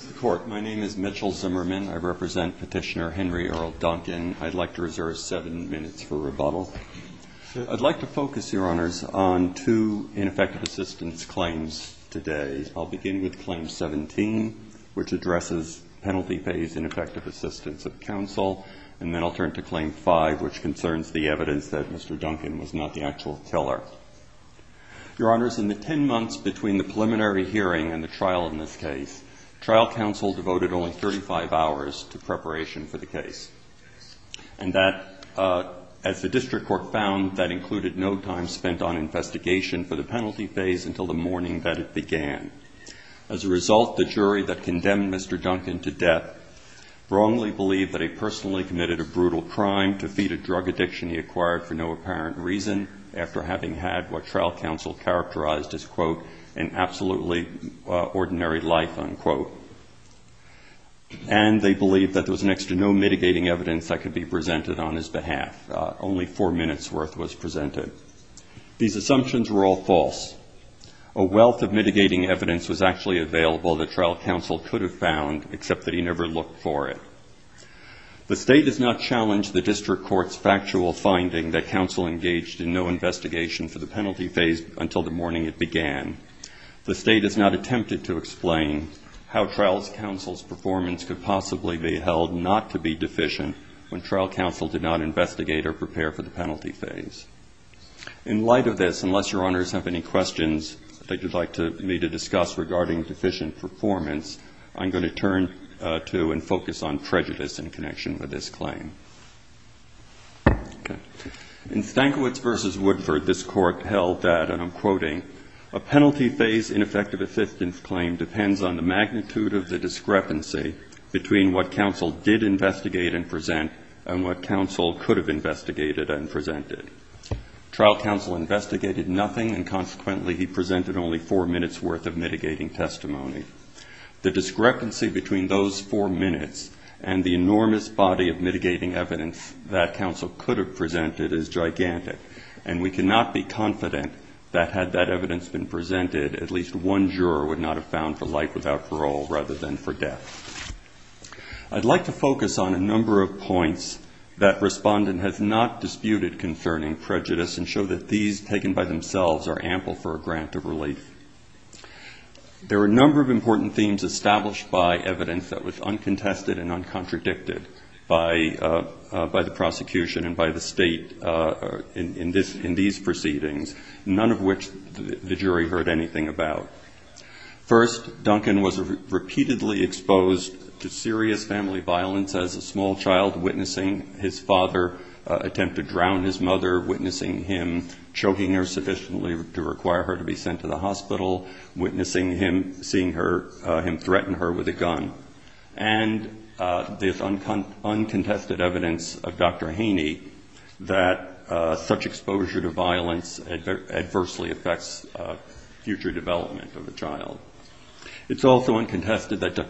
Mr. Court, my name is Mitchell Zimmerman. I represent Petitioner Henry Earl Duncan. I'd like to reserve seven minutes for rebuttal. I'd like to focus, Your Honors, on two ineffective assistance claims today. I'll begin with Claim 17, which addresses Penalty Pays in Effective Assistance of Counsel, and then I'll turn to Claim 5, which concerns the evidence that Mr. Duncan was not the actual killer. Your Honors, in the ten months between the trial counsel devoted only 35 hours to preparation for the case. And that, as the district court found, that included no time spent on investigation for the penalty pays until the morning that it began. As a result, the jury that condemned Mr. Duncan to death wrongly believed that he personally committed a brutal crime to feed a drug addiction he acquired for no apparent reason, after having had what trial counsel characterized as, quote, an absolutely ordinary life, unquote. And they believed that there was next to no mitigating evidence that could be presented on his behalf. Only four minutes' worth was presented. These assumptions were all false. A wealth of mitigating evidence was actually available that trial counsel could have found, except that he never looked for it. The State does not challenge the district court's factual finding that counsel engaged in no investigation for the penalty phase until the morning it began. The State has not attempted to explain how trial counsel's performance could possibly be held not to be deficient when trial counsel did not investigate or prepare for the penalty phase. In light of this, unless Your Honors have any questions that you'd like me to discuss regarding deficient performance, I'm going to turn to and focus on prejudice in connection with this claim. In Stankiewicz v. Woodford, this court held that, and I'm quoting, a penalty phase in effect of a fifteenth claim depends on the magnitude of the discrepancy between what counsel did investigate and present and what counsel could have investigated and presented. Trial counsel investigated nothing, and consequently he presented only four minutes' worth of mitigating testimony. The discrepancy between those four minutes and the enormous body of mitigating evidence that counsel could have presented is gigantic, and we cannot be confident that, had that evidence been presented, at least one juror would not have found for life without parole rather than for death. I'd like to focus on a number of points that Respondent has not disputed concerning prejudice and show that these, taken by themselves, are ample for a grant of relief. There are a number of important themes established by evidence that was uncontested and uncontradicted by the prosecution and by the state in these proceedings, none of which the jury heard anything about. First, Duncan was repeatedly exposed to serious family violence as a small child witnessing his father attempt to drown his mother, witnessing him choking her sufficiently to require her to be sent to the hospital, witnessing him seeing him threaten her with a gun, and there's uncontested evidence of Dr. Haney that such exposure to violence adversely affects future development of a child. It's also uncontested that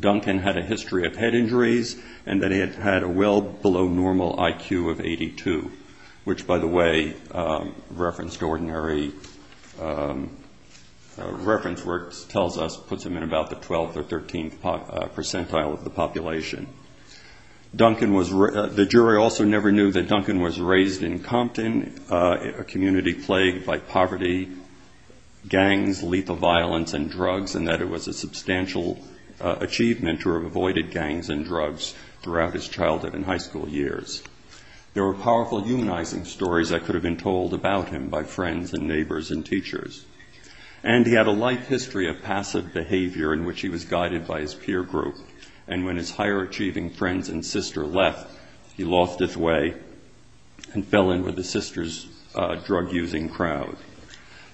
Duncan had a history of head injuries and that he had a well below normal IQ of 82, which, by the way, referenced ordinary reference works, puts him in about the 12th or 13th percentile of the population. The jury also never knew that Duncan was raised in Compton, a community plagued by poverty, gangs, lethal violence, and drugs, and that it was a substantial achievement to have avoided gangs and drugs throughout his childhood and high school years. There were powerful humanizing stories that could have been told about him by friends and neighbors and teachers. And he had a life history of passive behavior in which he was guided by his peer group, and when his higher achieving friends and sister left, he lost his way and fell in with his sister's drug-using crowd.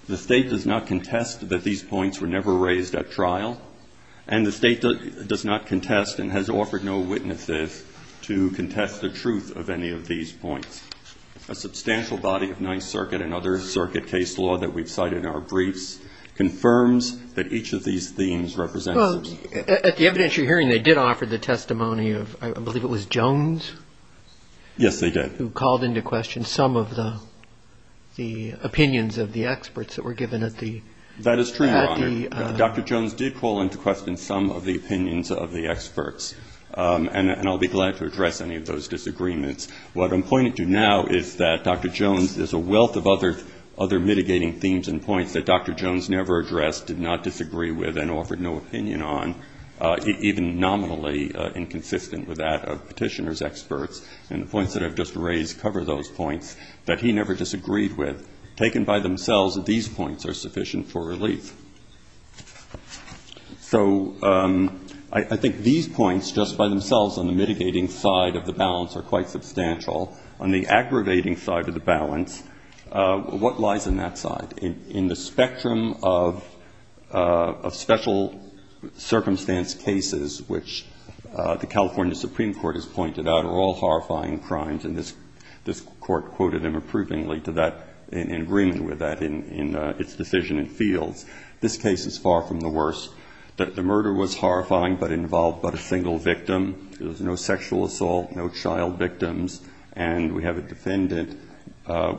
The state does not contest that these points were never raised at trial, and the state does not contest and has offered no witnesses to contest the truth of any of these points. A substantial body of Ninth Circuit and other circuit case law that we've cited in our briefs confirms that each of these themes represents... Well, at the evidentiary hearing, they did offer the testimony of, I believe it was Jones? Yes, they did. Who called into question some of the opinions of the experts that were given at the... That is true, Your Honor. Dr. Jones did call into question some of the opinions of the participants. What I'm pointing to now is that Dr. Jones, there's a wealth of other mitigating themes and points that Dr. Jones never addressed, did not disagree with, and offered no opinion on, even nominally inconsistent with that of petitioner's experts. And the points that I've just raised cover those points that he never disagreed with. Taken by themselves, these points are sufficient for relief. So I think these points, just by themselves, on the mitigating side of the balance are quite substantial. On the aggravating side of the balance, what lies in that side? In the spectrum of special circumstance cases, which the California Supreme Court has pointed out are all horrifying crimes, and this Court quoted them approvingly to that, in agreement with that, in its decision and fields. This case is far from the worst. The murder was and we have a defendant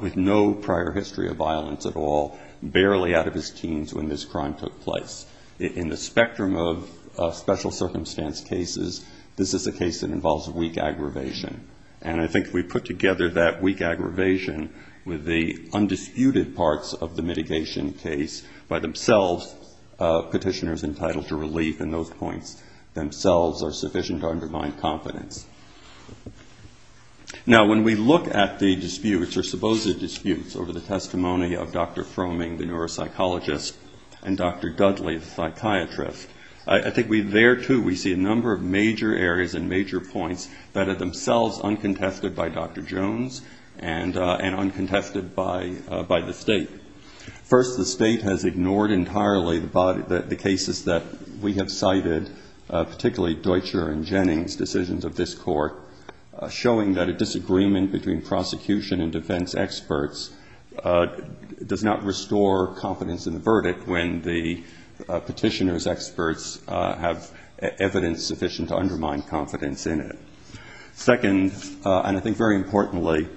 with no prior history of violence at all, barely out of his teens when this crime took place. In the spectrum of special circumstance cases, this is a case that involves weak aggravation. And I think if we put together that weak aggravation with the undisputed parts of the mitigation case by themselves, petitioner's entitled to relief in those points themselves are sufficient to undermine confidence. Now when we look at the disputes, or supposed disputes, over the testimony of Dr. Fromming, the neuropsychologist, and Dr. Dudley, the psychiatrist, I think there too we see a number of major areas and major points that are themselves uncontested by Dr. Jones and uncontested by the State. First, the State has ignored entirely the cases that we have cited, particularly Deutscher and Jennings' decisions of this Court, showing that a disagreement between prosecution and defense experts does not restore confidence in the verdict when the petitioner's experts have evidence sufficient to undermine confidence in it. Second, and I think very importantly,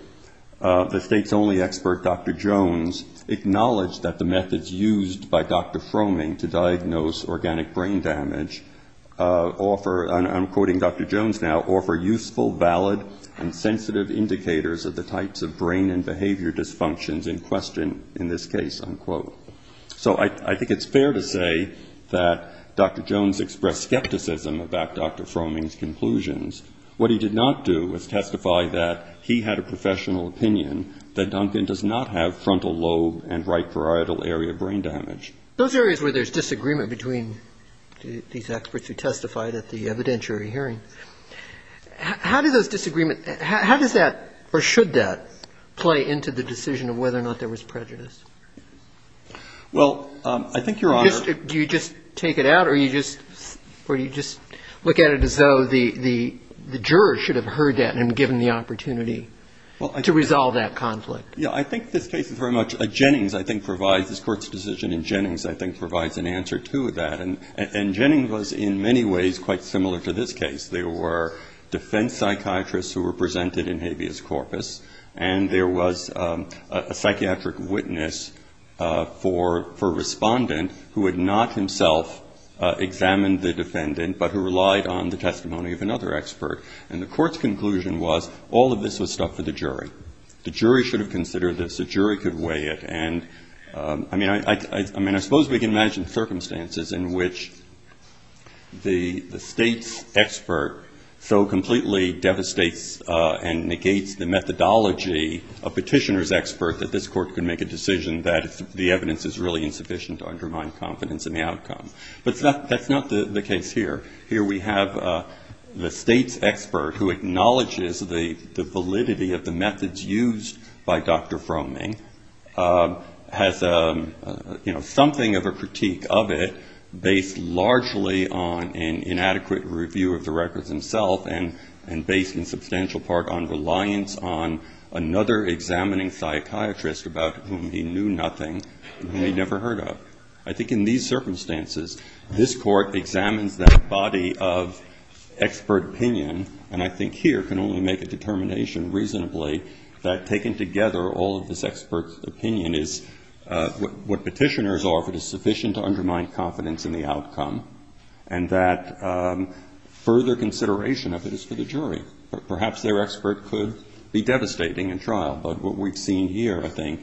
the State's only expert, Dr. Jones, acknowledged that the methods used by Dr. Fromming to diagnose organic brain damage offer, and I'm quoting Dr. Jones now, offer useful, valid, and sensitive indicators of the types of brain and behavior dysfunctions in question in this case, unquote. So I think it's fair to say that Dr. Jones expressed skepticism about Dr. Fromming's conclusions. What he did not do was testify that he had a professional opinion that Duncan does not have frontal lobe and right parietal area brain damage. Those areas where there's disagreement between these experts who testified at the evidentiary hearing, how do those disagreements, how does that, or should that, play into the decision of whether or not there was prejudice? Well, I think, Your Honor Do you just take it out or do you just look at it as though the juror should have heard that and given the opportunity to resolve that conflict? Yeah, I think this case is very much, Jennings, I think, provides, this Court's decision in Jennings, I think, provides an answer to that. And Jennings was, in many ways, quite similar to this case. There were defense psychiatrists who were presented in habeas corpus, and there was a psychiatric witness for a respondent who had not himself examined the defendant but who relied on the testimony of another expert. And the Court's conclusion was all of this was stuff for the jury. The jury should have considered this. The jury could weigh it. And, I mean, I suppose we can imagine circumstances in which the State's and negates the methodology of petitioner's expert that this Court could make a decision that the evidence is really insufficient to undermine confidence in the outcome. But that's not the case here. Here we have the State's expert who acknowledges the validity of the methods used by Dr. Fromming, has, you know, something of a critique of it based largely on an inadequate review of the records himself and based in substantial part on reliance on another examining psychiatrist about whom he knew nothing and whom he'd never heard of. I think in these circumstances, this Court examines that body of expert opinion, and I think here can only make a determination reasonably that, taken together, all of this expert opinion is what petitioner's offer is sufficient to undermine confidence in the outcome, and that further consideration of it is for the jury. Perhaps their expert could be devastating in trial, but what we've seen here, I think,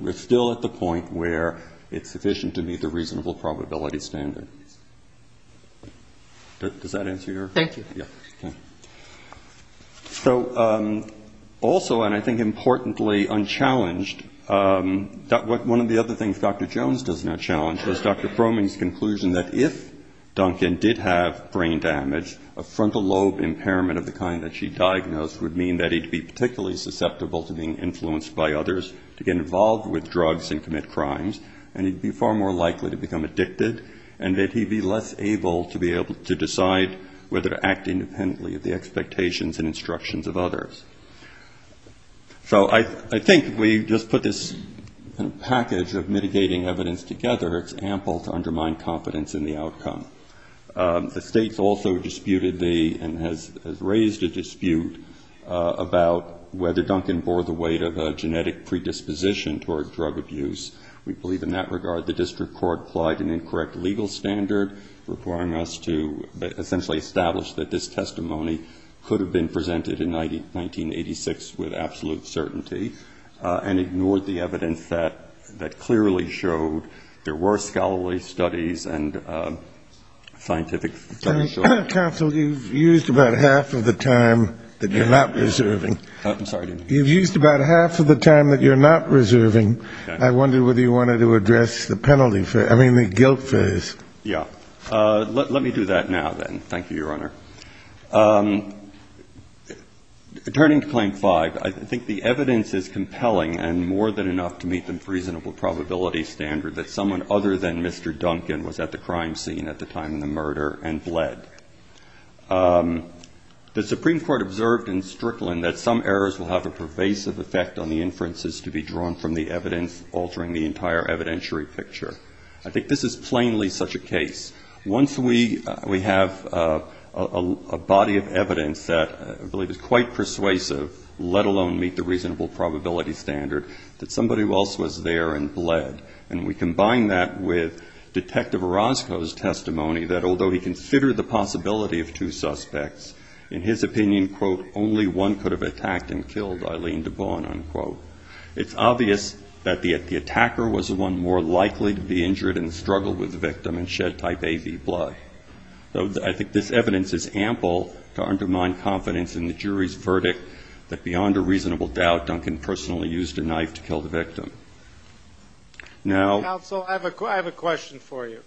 we're still at the point where it's sufficient to meet the reasonable probability standard. Does that answer your? Thank you. So also, and I think importantly unchallenged, one of the other things Dr. Jones does not do is conclude that if Duncan did have brain damage, a frontal lobe impairment of the kind that she diagnosed would mean that he'd be particularly susceptible to being influenced by others, to get involved with drugs and commit crimes, and he'd be far more likely to become addicted, and that he'd be less able to be able to decide whether to act independently of the expectations and instructions of others. So I think we just put this package of mitigating evidence together. It's ample to undermine confidence in the outcome. The state's also disputed the, and has raised a dispute about whether Duncan bore the weight of a genetic predisposition toward drug abuse. We believe in that regard the district court applied an incorrect legal standard, requiring us to essentially establish that this testimony could have been presented in 1986 with absolute certainty, and ignored the evidence that clearly showed there were scholarly studies and scientific studies. Counsel, you've used about half of the time that you're not reserving. I'm sorry. You've used about half of the time that you're not reserving. I wonder whether you wanted to address the penalty for, I mean, the guilt for this. Yeah. Let me do that now, then. Thank you, Your Honor. Turning to Claim 5, I think the evidence is compelling, and more than enough to meet the reasonable probability standard that someone other than Mr. Duncan was at the crime scene at the time of the murder and bled. The Supreme Court observed in Strickland that some errors will have a pervasive effect on the inferences to be drawn from the evidence, altering the entire evidentiary picture. I think this is plainly such a case. Once we have a body of evidence that I believe is quite persuasive, let alone meet the reasonable probability standard, that somebody else was there and bled, and we combine that with Detective Orozco's testimony that although he considered the possibility of two suspects, in his opinion, quote, only one could have attacked and killed, Eileen DeBorn, unquote, it's obvious that the attacker was the one more likely to be injured in the struggle with the victim and shed type A, B blood. I think this evidence is ample to undermine confidence in the jury's verdict that beyond a reasonable doubt, Duncan personally used a knife to kill the victim. Counsel, I have a question for you.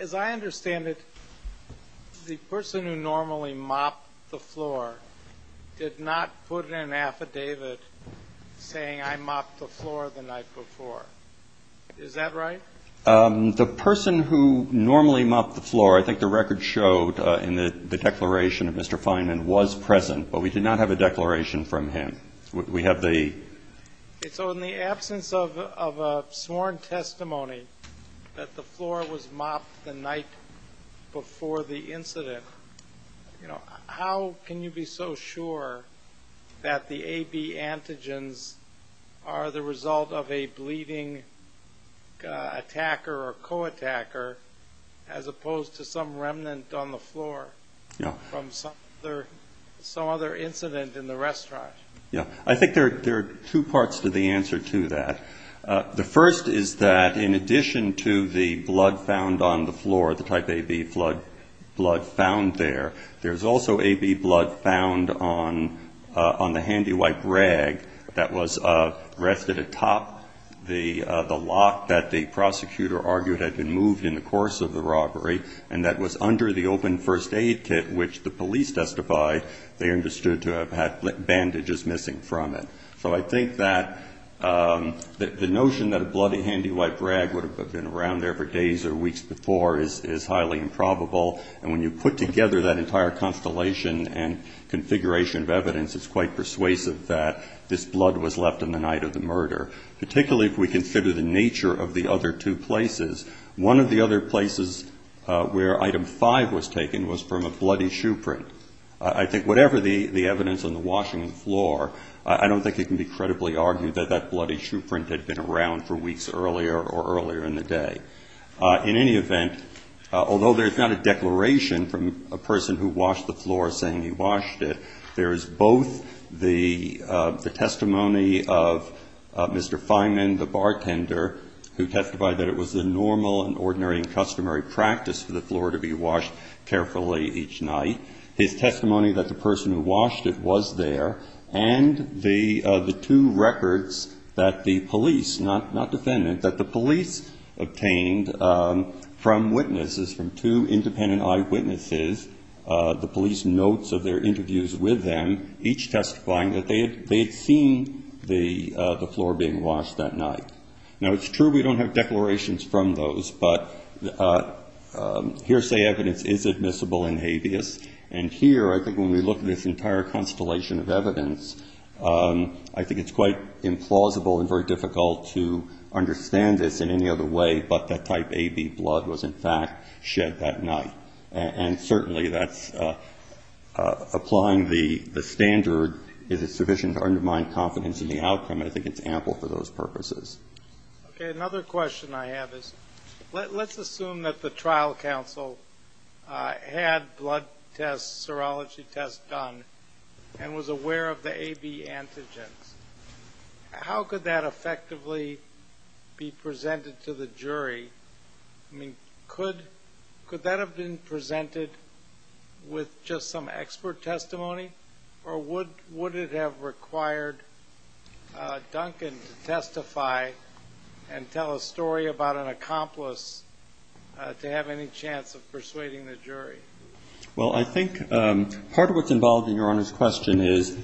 As I understand it, the person who normally mopped the floor did not put in an affidavit saying, I mopped the floor the night before. Is that right? The person who normally mopped the floor, I think the record showed in the declaration of Mr. Fineman was present, but we did not have a declaration from him. We have the So in the absence of a sworn testimony that the floor was mopped the night before the murder, are you so sure that the A, B antigens are the result of a bleeding attacker or co-attacker as opposed to some remnant on the floor from some other incident in the restaurant? I think there are two parts to the answer to that. The first is that in addition to the blood found on the floor, the type A, B blood found there, there's also A, B blood found on the handy wipe rag that was rested atop the lock that the prosecutor argued had been moved in the course of the robbery and that was under the open first aid kit which the police testified they understood to have had bandages missing from it. So I think that the notion that a bloody handy wipe rag would have been around there for days or weeks before is highly improbable, and when you put together that entire constellation and configuration of evidence, it's quite persuasive that this blood was left on the night of the murder, particularly if we consider the nature of the other two places. One of the other places where item five was taken was from a bloody shoe print. I think whatever the evidence on the washing of the floor, I don't think it can be credibly argued that that bloody shoe print had been around for weeks earlier or earlier in the day. In any event, although there's not a declaration from a person who washed the floor saying he washed it, there is both the testimony of Mr. Fineman, the bartender, who testified that it was the normal and ordinary and customary practice for the floor to be washed carefully each night, his testimony that the person who washed it was there, and the two records that the police, not defendant, that the police obtained from witnesses, from two independent eyewitnesses, the police notes of their interviews with them, each testifying that they had seen the floor being washed that night. Now it's true we don't have declarations from those, but hearsay evidence is admissible in habeas, and here I think when we look at this entire constellation of evidence, I think it's quite implausible and very difficult to understand this in any other way, but that type AB blood was in fact shed that night. And certainly that's applying the standard is it sufficient to undermine confidence in the outcome, I think it's ample for those purposes. Okay, another question I have is, let's assume that the trial counsel had blood tests, serology tests done, and was aware of the AB antigens. How could that effectively be presented to the jury? I mean, could that have been presented with just some expert testimony, or would it have required Duncan to testify and tell a story about an accomplice to have any chance of persuading the jury? Well I think part of what's involved in Your Honor's question is,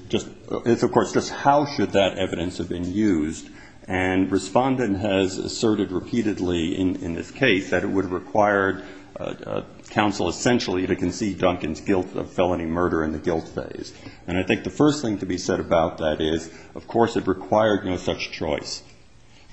of course, just how should that evidence have been used, and Respondent has asserted repeatedly in this case that it would have required counsel essentially to concede Duncan's guilt of felony murder in the guilt phase. And I think the first thing to be said about that is, of course, it required no such choice.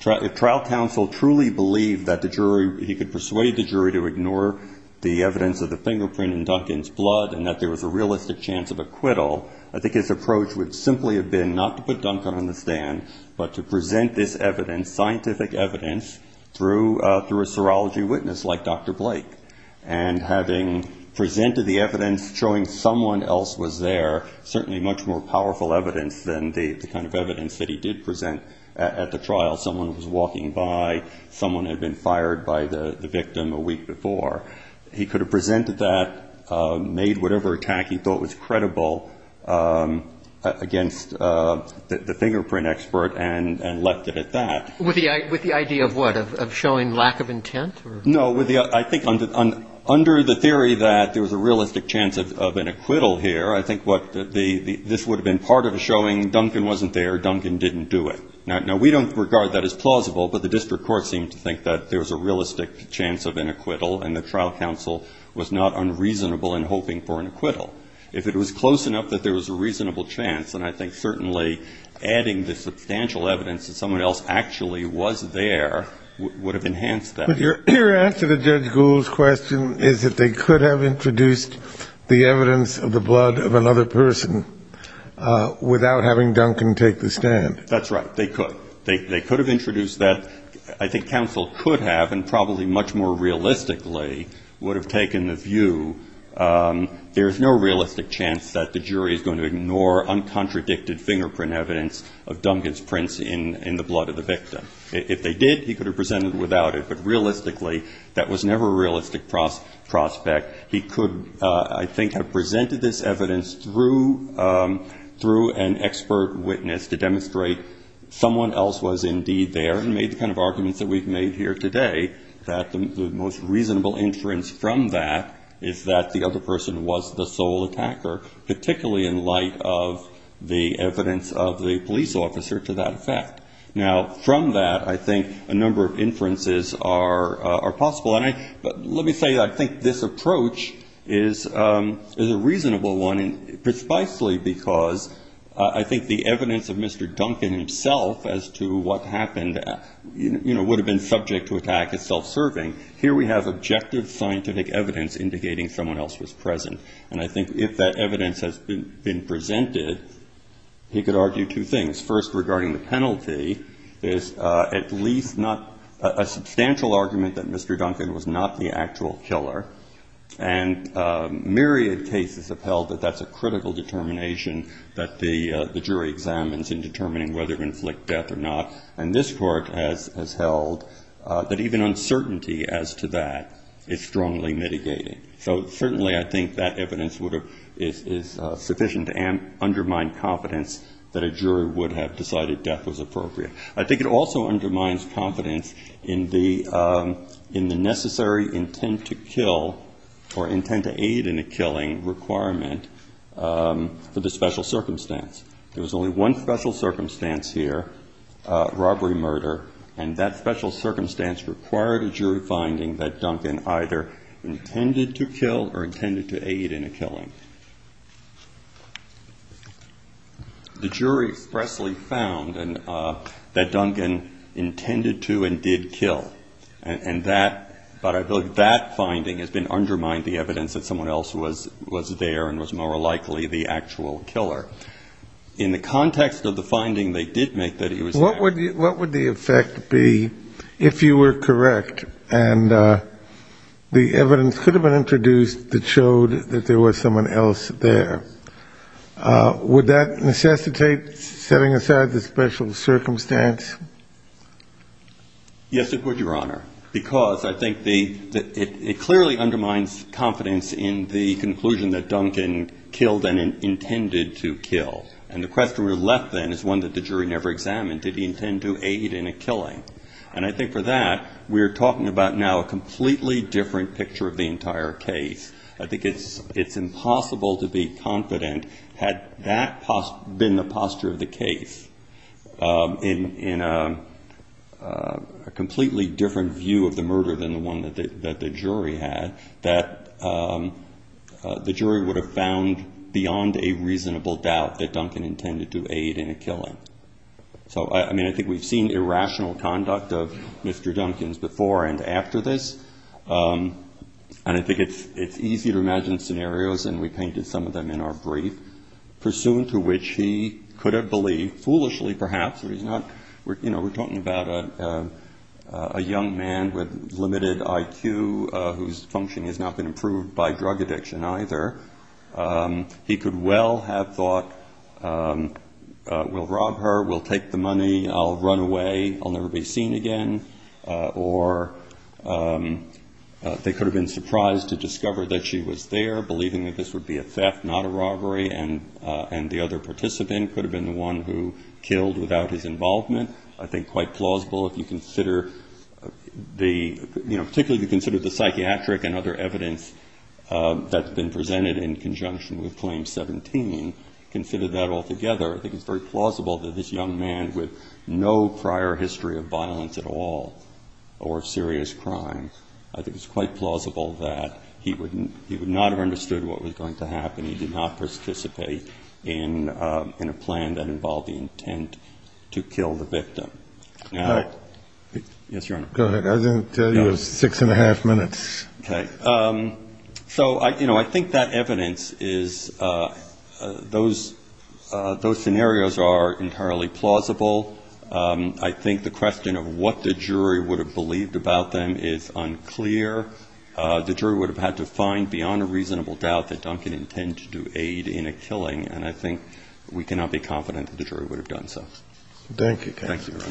If trial counsel truly believed that the jury, he could persuade the jury to ignore the evidence of the fingerprint in Duncan's blood and that there was a realistic chance of acquittal, I think his approach would simply have been not to put Duncan on the stand, but to present this evidence, scientific evidence, through a serology witness like was there, certainly much more powerful evidence than the kind of evidence that he did present at the trial. Someone was walking by, someone had been fired by the victim a week before. He could have presented that, made whatever attack he thought was credible against the fingerprint expert, and left it at that. With the idea of what? Of showing lack of intent? No. I think under the theory that there was a realistic chance of an acquittal here, I think this would have been part of a showing, Duncan wasn't there, Duncan didn't do it. Now, we don't regard that as plausible, but the district court seemed to think that there was a realistic chance of an acquittal, and the trial counsel was not unreasonable in hoping for an acquittal. If it was close enough that there was a reasonable chance, and I think certainly adding the substantial evidence that someone else actually was there would have enhanced that. Your answer to Judge Gould's question is that they could have introduced the evidence of the blood of another person without having Duncan take the stand. That's right. They could. They could have introduced that. I think counsel could have, and probably much more realistically would have taken the view there is no realistic chance that the jury is going to ignore uncontradicted fingerprint evidence of Duncan's prints in the blood of the victim. If they did, he could have presented without it, but realistically that was never a realistic prospect. He could, I think, have presented this evidence through an expert witness to demonstrate someone else was indeed there and made the kind of arguments that we've made here today, that the most reasonable inference from that is that the other person was the sole attacker, particularly in light of the evidence of the police officer to that effect. Now, from that, I think a number of inferences are possible. And let me say I think this approach is a reasonable one, precisely because I think the evidence of Mr. Duncan himself as to what happened would have been subject to attack as self-serving. Here we have objective scientific evidence indicating someone else was present. And I think if that evidence has been presented, he could argue two things. First, regarding the penalty, is at least not a substantial argument that Mr. Duncan was not the actual killer. And myriad cases have held that that's a critical determination that the jury examines in determining whether to inflict death or not. And this court has held that even uncertainty as to that is strongly mitigating. So certainly I think that evidence is sufficient to undermine confidence that a jury would have decided death was appropriate. I think it also undermines confidence in the necessary intent to kill or intent to aid in a killing requirement for the special circumstance. There was only one special circumstance here, robbery murder, and that special circumstance required a jury finding that Duncan either intended to kill or intended to aid in a killing. The jury expressly found that Duncan intended to and did kill. And that, but I believe that finding has been undermined, the evidence that someone else was there and was more likely the actual killer. In the context of the finding they did make that he was there. What would the effect be if you were correct and the evidence could have been introduced that showed that there was someone else there? Would that necessitate setting aside the special Yes, it would, Your Honor, because I think it clearly undermines confidence in the conclusion that Duncan killed and intended to kill. And the question we're left then is one that the jury never examined. Did he intend to aid in a killing? And I think for that we're talking about now a completely different picture of the entire case. I think it's impossible to be confident had that been the posture of the case in a completely different view of the murder than the one that the jury had, that the jury would have found beyond a reasonable doubt that Duncan intended to aid in a killing. So I mean I think we've seen irrational conduct of Mr. Duncan's before and after this. And I think it's easy to imagine scenarios, and we painted some of them in our brief, pursuant to which he could have believed, foolishly perhaps, we're talking about a young man with limited IQ whose function has not been improved by drug addiction either. He could well have thought, we'll rob her, we'll take the money, I'll run away, I'll never be seen again. Or they could have been surprised to discover that she was there, believing that this would be a theft, not a robbery, and the other participant could have been the one who killed without his involvement. I think quite plausible if you consider the, particularly if you consider the psychiatric and other evidence that's been presented in conjunction with Claim 17, consider that altogether. I think it's very plausible that this young man with no prior history of violence at all or serious crime, I think it's quite plausible that he would not have understood what was going to happen. He did not participate in a plan that involved the intent to kill the victim. Now, yes, Your Honor. Go ahead. I didn't tell you it was six and a half minutes. Okay. So I think that evidence is, those scenarios are entirely plausible. I think the question of what the jury would have believed about them is unclear. The jury would have had to find beyond a reasonable doubt that Duncan intended to do aid in a killing, and I think we cannot be confident that the jury would have done so. Thank you, counsel. Thank you, Your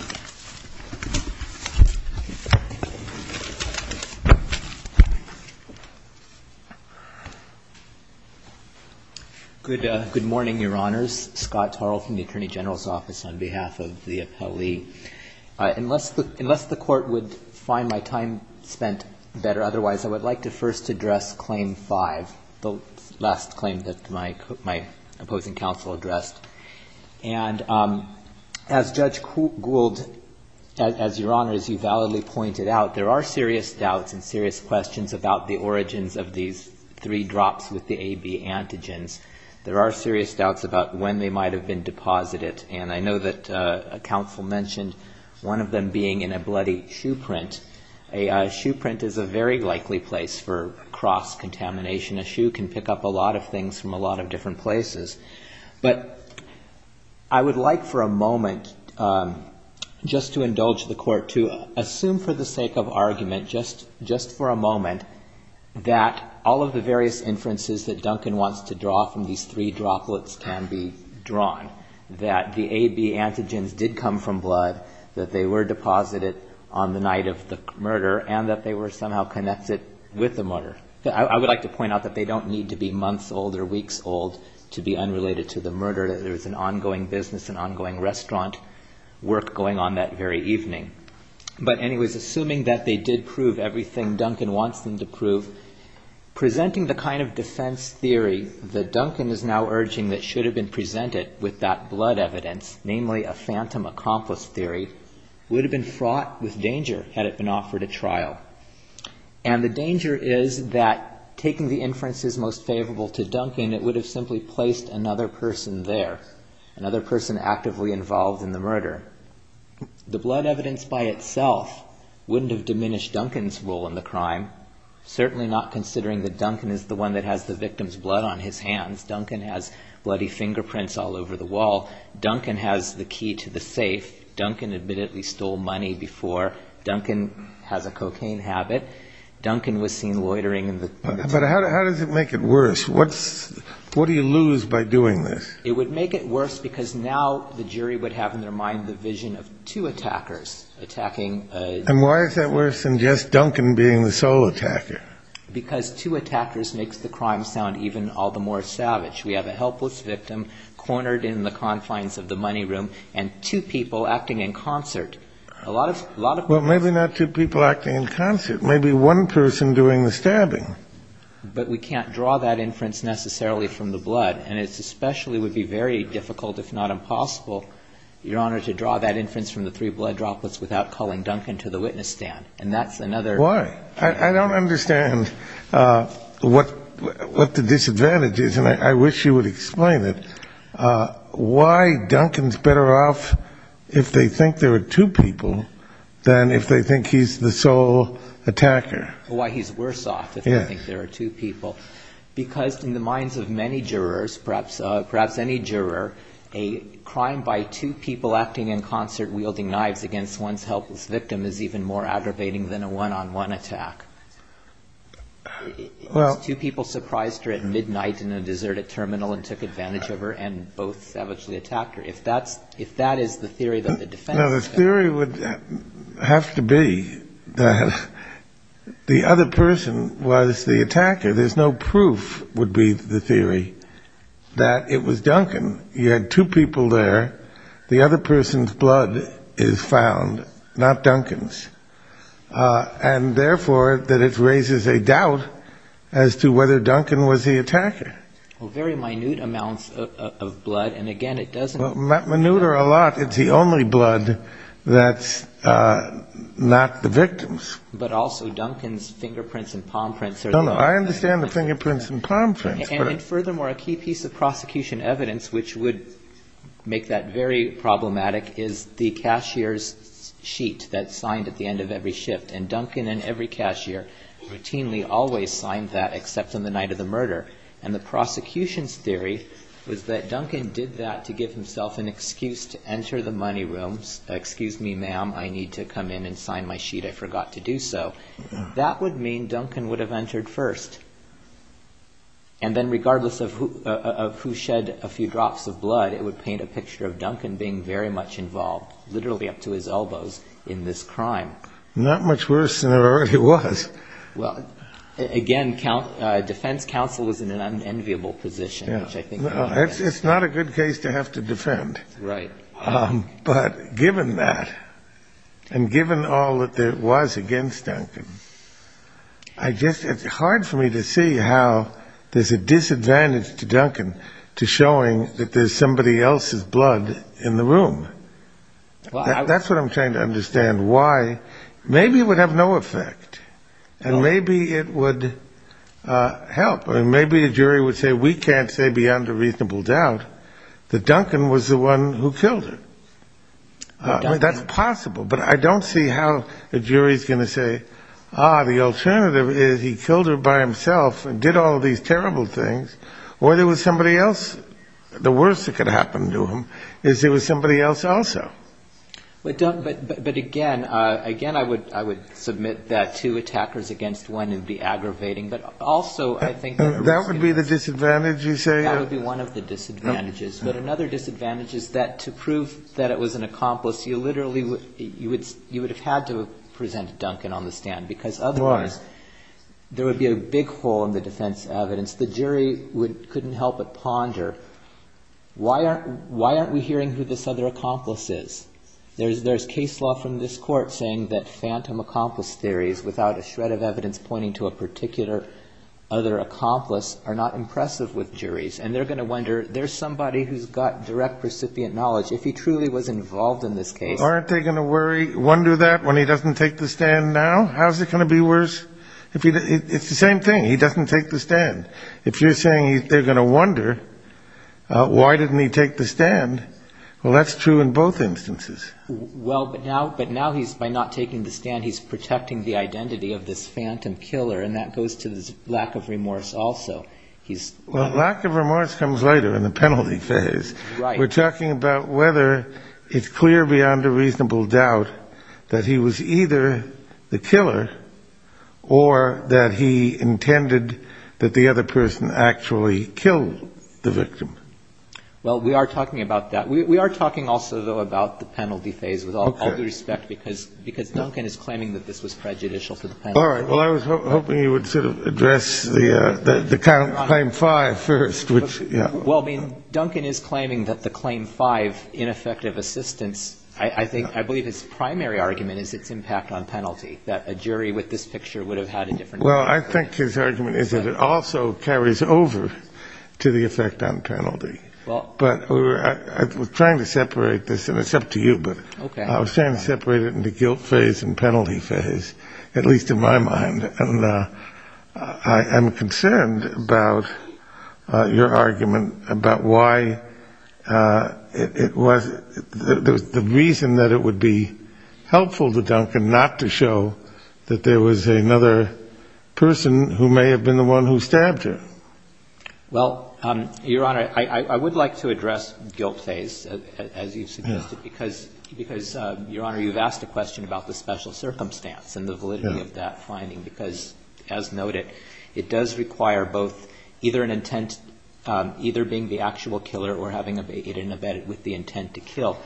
Honor. Good morning, Your Honors. Scott Tarl from the Attorney General's Office on behalf of the appellee. Unless the Court would find my time spent better otherwise, I would like to first address Claim 5, the last claim that my opposing counsel addressed. And as Judge Gould, as Your Honors, you validly pointed out, there are serious doubts and serious questions about the origins of these three drops with the AB antigens. There are serious doubts about when they might have been deposited, and I know that counsel mentioned one of them being in a bloody shoe print. A shoe print is a very likely place for cross-contamination. A shoe can pick up a lot of things from a lot of different places. But I would like for a moment just to indulge the Court to assume for the sake of argument, just for a moment, that all of the various inferences that Duncan wants to draw from these three the night of the murder, and that they were somehow connected with the murder. I would like to point out that they don't need to be months old or weeks old to be unrelated to the murder. There is an ongoing business, an ongoing restaurant work going on that very evening. But anyways, assuming that they did prove everything Duncan wants them to prove, presenting the kind of defense theory that Duncan is now urging that should have been fraught with danger had it been offered a trial. And the danger is that taking the inferences most favorable to Duncan, it would have simply placed another person there, another person actively involved in the murder. The blood evidence by itself wouldn't have diminished Duncan's role in the crime, certainly not considering that Duncan is the one that has the victim's blood on his hands. Duncan has bloody fingerprints all over the wall. Duncan has the key to the safe. Duncan admittedly stole money before. Duncan has a cocaine habit. Duncan was seen loitering in the- But how does it make it worse? What do you lose by doing this? It would make it worse because now the jury would have in their mind the vision of two attackers attacking- And why is that worse than just Duncan being the sole attacker? Because two attackers makes the crime sound even all the more savage. We have a helpless victim cornered in the confines of the money room and two people acting in concert. A lot of- Well, maybe not two people acting in concert. Maybe one person doing the stabbing. But we can't draw that inference necessarily from the blood. And it especially would be very difficult, if not impossible, Your Honor, to draw that inference from the three blood droplets without calling Duncan to the witness stand. And that's another- Why? I don't understand what the disadvantage is. And I wish you would explain it. Why Duncan's better off if they think there are two people than if they think he's the sole attacker? Why he's worse off if they think there are two people. Because in the minds of many jurors, perhaps any juror, a crime by two people acting in concert wielding knives against one's helpless attack. It's two people surprised her at midnight in a deserted terminal and took advantage of her and both savagely attacked her. If that is the theory that the defense- No, the theory would have to be that the other person was the attacker. There's no proof would be the theory that it was Duncan. You had two people there. The other person's blood is found, not Duncan's. And therefore, that it raises a doubt as to whether Duncan was the attacker. Well, very minute amounts of blood. And again, it doesn't- Well, minute are a lot. It's the only blood that's not the victim's. But also Duncan's fingerprints and palm prints are- No, no. I understand the fingerprints and palm prints, but- And furthermore, a key piece of prosecution evidence which would make that very problematic is the cashier's sheet that's signed at the end of every shift. And Duncan and every cashier routinely always signed that except on the night of the murder. And the prosecution's theory was that Duncan did that to give himself an excuse to enter the money room. Excuse me, ma'am, I need to come in and sign my sheet. I forgot to do so. That would mean Duncan would have entered first. And then regardless of who shed a few drops of blood, it would paint a picture of Duncan being very much involved, literally up to his elbows in this crime. Not much worse than it already was. Well, again, defense counsel is in an unenviable position, which I think- It's not a good case to have to defend. Right. But given that, and given all that there was against Duncan, it's hard for me to see how there's a disadvantage to Duncan to showing that there's somebody else's blood in the room. That's what I'm trying to understand. Why? Maybe it would have no effect. And maybe it would help. Or maybe a jury would say, we can't say beyond a reasonable doubt that Duncan was the one who killed her. That's possible. But I don't see how a jury's going to say, ah, the alternative is he killed her by himself and did all of these terrible things, or there was somebody else. The worst that could happen to him is there was somebody else also. But again, I would submit that two attackers against one would be aggravating. But also, I think- That would be the disadvantage, you say? That would be one of the disadvantages. But another disadvantage is that to prove that was an accomplice, you literally would have had to present Duncan on the stand. Because otherwise, there would be a big hole in the defense evidence. The jury couldn't help but ponder, why aren't we hearing who this other accomplice is? There's case law from this court saying that phantom accomplice theories, without a shred of evidence pointing to a particular other accomplice, are not impressive with juries. And they're going to wonder, there's somebody who's got direct recipient knowledge. If he truly was involved in this case- Aren't they going to worry, wonder that when he doesn't take the stand now? How's it going to be worse? It's the same thing. He doesn't take the stand. If you're saying they're going to wonder, why didn't he take the stand? Well, that's true in both instances. Well, but now he's, by not taking the stand, he's protecting the identity of this phantom killer. And that goes to this lack of remorse also. He's- Well, we are talking about that. We are talking also, though, about the penalty phase with all due respect, because Duncan is claiming that this was prejudicial to the penalty. All right. Well, I was hoping you would sort of address the claim five first, which- The victim is not guilty of the crime. I mean, Duncan is claiming that the claim five, ineffective assistance, I think, I believe his primary argument is its impact on penalty, that a jury with this picture would have had a different- Well, I think his argument is that it also carries over to the effect on penalty. Well- But we're trying to separate this, and it's up to you, but- Okay. I was trying to separate it into guilt phase and penalty phase, at least in my mind. And I am concerned about your argument about why it was- the reason that it would be helpful to Duncan not to show that there was another person who may have been the one who stabbed her. Well, Your Honor, I would like to address guilt phase, as you suggested, because, Your Honor, as noted, it does require both either an intent, either being the actual killer or having it in a bed with the intent to kill.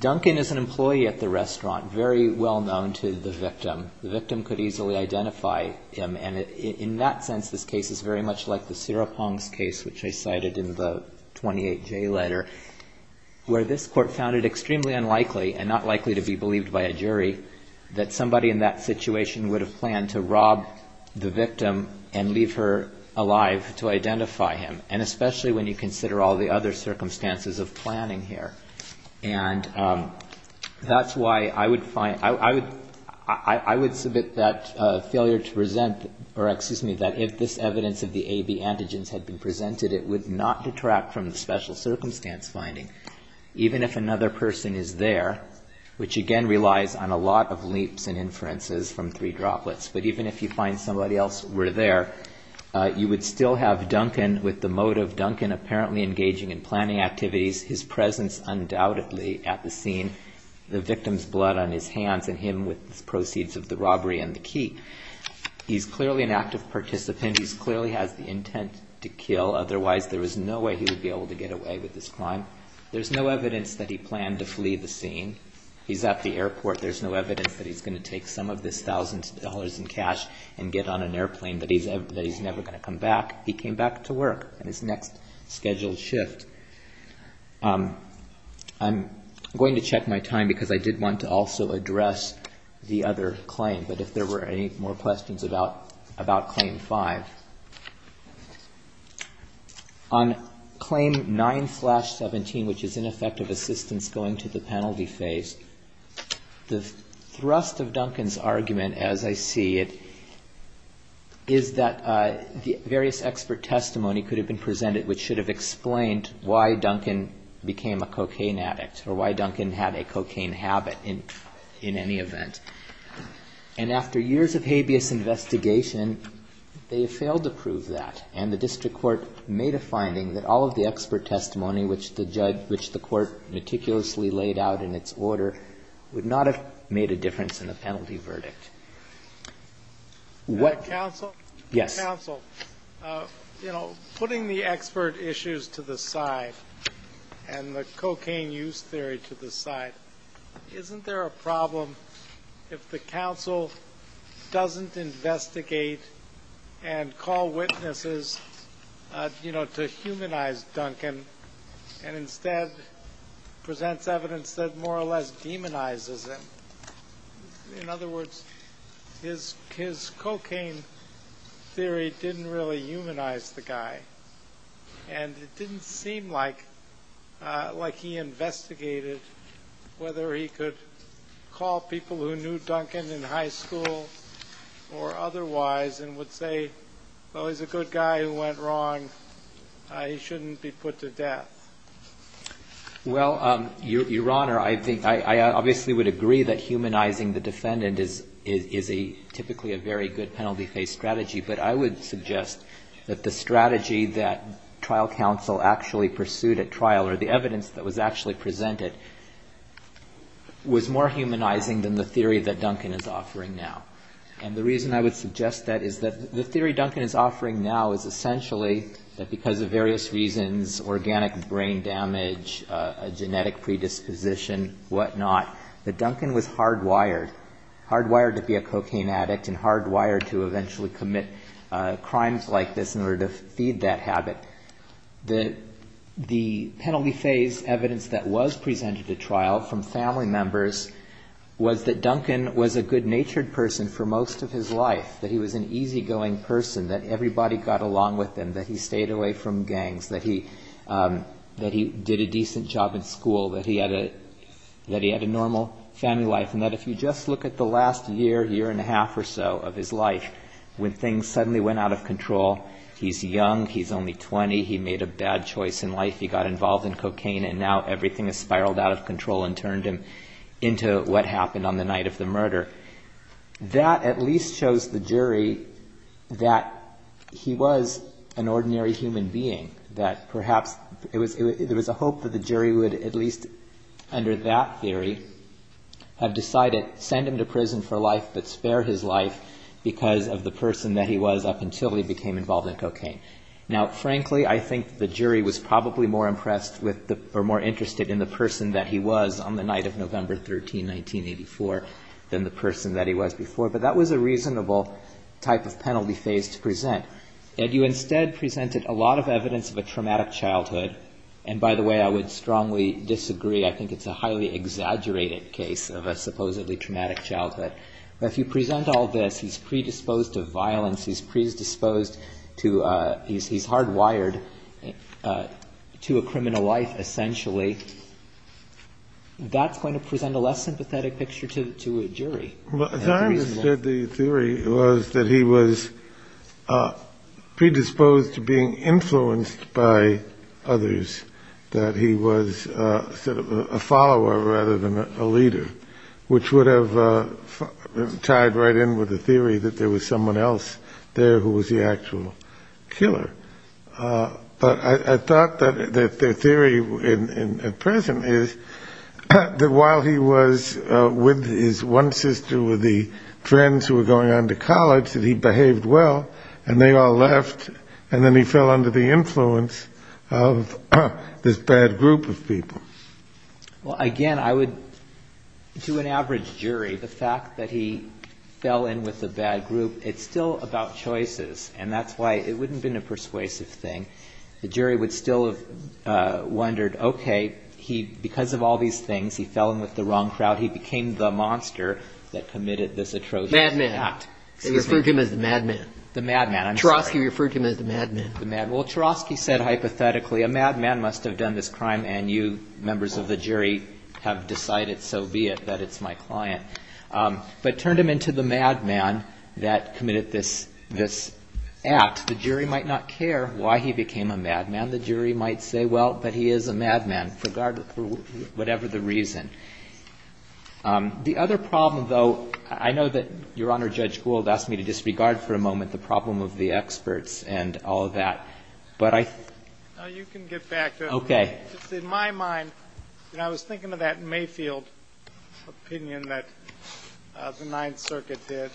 Duncan is an employee at the restaurant, very well-known to the victim. The victim could easily identify him, and in that sense, this case is very much like the Siropong's case, which I cited in the 28J letter, where this court found it extremely unlikely, and not to rob the victim and leave her alive to identify him, and especially when you consider all the other circumstances of planning here. And that's why I would find- I would submit that failure to present, or excuse me, that if this evidence of the AB antigens had been presented, it would not detract from the special circumstance finding, even if another person is there, which again relies on a lot of leaps and inferences from three droplets, but even if you find somebody else were there, you would still have Duncan with the motive, Duncan apparently engaging in planning activities, his presence undoubtedly at the scene, the victim's blood on his hands, and him with the proceeds of the robbery and the key. He's clearly an active participant. He clearly has the intent to kill. Otherwise, there was no way he would be able to get away with this crime. There's no evidence that he planned to flee the scene. He's at the airport. There's no evidence that he's going to take some of this thousand dollars in cash and get on an airplane, that he's never going to come back. He came back to work on his next scheduled shift. I'm going to check my time, because I did want to also address the other claim, but if there were any more questions about Claim 5. On Claim 9-17, which is in effect of assistance going to the penalty phase, the thrust of Duncan's argument, as I see it, is that the various expert testimony could have been presented, which should have explained why Duncan became a cocaine addict, or why Duncan had a cocaine habit in any event. And after years of habeas investigation, they have failed to prove that. And the district court made a finding that all of the expert testimony, which the court meticulously laid out in its order, would not have made a difference in the penalty verdict. Yes. Putting the expert issues to the side, and the cocaine use theory to the side, isn't there a problem in that if the counsel doesn't investigate and call witnesses to humanize Duncan, and instead presents evidence that more or less demonizes him? In other words, his cocaine theory didn't really humanize the guy. And it didn't seem like he investigated whether he could call people who knew Duncan to testify. It seemed like he was a good guy who went wrong. He shouldn't be put to death. Well, Your Honor, I obviously would agree that humanizing the defendant is typically a very good penalty phase strategy. But I would suggest that the strategy that trial counsel actually pursued at trial, or the evidence that was actually presented, was more humanizing than the theory that Duncan is offering now. And the reason I would suggest that is that the theory Duncan is offering now is essentially that because of various reasons, organic brain damage, a genetic predisposition, whatnot, that Duncan was hardwired, hardwired to be a cocaine addict, and hardwired to eventually commit crimes like this in order to feed that habit. The penalty phase evidence that was presented at trial from family members was that Duncan was a good-natured person for most of his life, that he was an easygoing person, that everybody got along with him, that he stayed away from gangs, that he did a decent job in school, that he had a normal family life, and that if you just look at the last year, year and a half or so of his life, when things suddenly went out of control, he's young, he's only 20, he made a bad choice in life, he got involved in cocaine, and now everything has spiraled out of control and turned him into what happened on the night of the murder. That at least shows the jury that he was an ordinary human being, that perhaps there was a hope that the jury would, at least under that theory, have decided, send him to prison for life, but spare his life because of the person that he was up until he became involved in cocaine. Now, frankly, I think the jury was probably more interested in the person that he was on the night of November 13, 1984, than the person that he was before, but that was a reasonable type of penalty phase to present. And you instead presented a lot of evidence of a traumatic childhood, and by the way, I would strongly disagree. I think it's a highly exaggerated case of a supposedly traumatic childhood. But if you present all this, he's predisposed to violence, he's predisposed to, he's hardwired to a criminal life essentially, that's going to present a less sympathetic picture to a jury. As I understood the theory, it was that he was predisposed to being influenced by others, that he was sort of a follower rather than a leader, which would have tied right in with the theory that there was someone else there who was the actual killer. But I thought that their theory at present is that while he was with his one sister, with the friends who were going on to college, that he behaved well, and they all left, and then he fell under the influence of this bad group of people. Well, again, I would, to an average jury, the fact that he fell in with the bad group, it's still about choices. And that's why it wouldn't have been a persuasive thing. The jury would still have wondered, okay, he, because of all these things, he fell in with the wrong crowd. He became the monster that committed this atrocious act. They referred to him as the madman. Trosky referred to him as the madman. Well, Trosky said hypothetically, a madman must have done this crime, and you members of the jury have decided so be it, that it's my client. But turned him into the madman that committed this act. The jury might not care why he became a madman. And the jury might say, well, but he is a madman, for whatever the reason. The other problem, though, I know that Your Honor, Judge Gould asked me to disregard for a moment the problem of the experts and all of that. But I think you can get back to it. Okay. It's in my mind, and I was thinking of that Mayfield opinion that the Ninth Circuit did,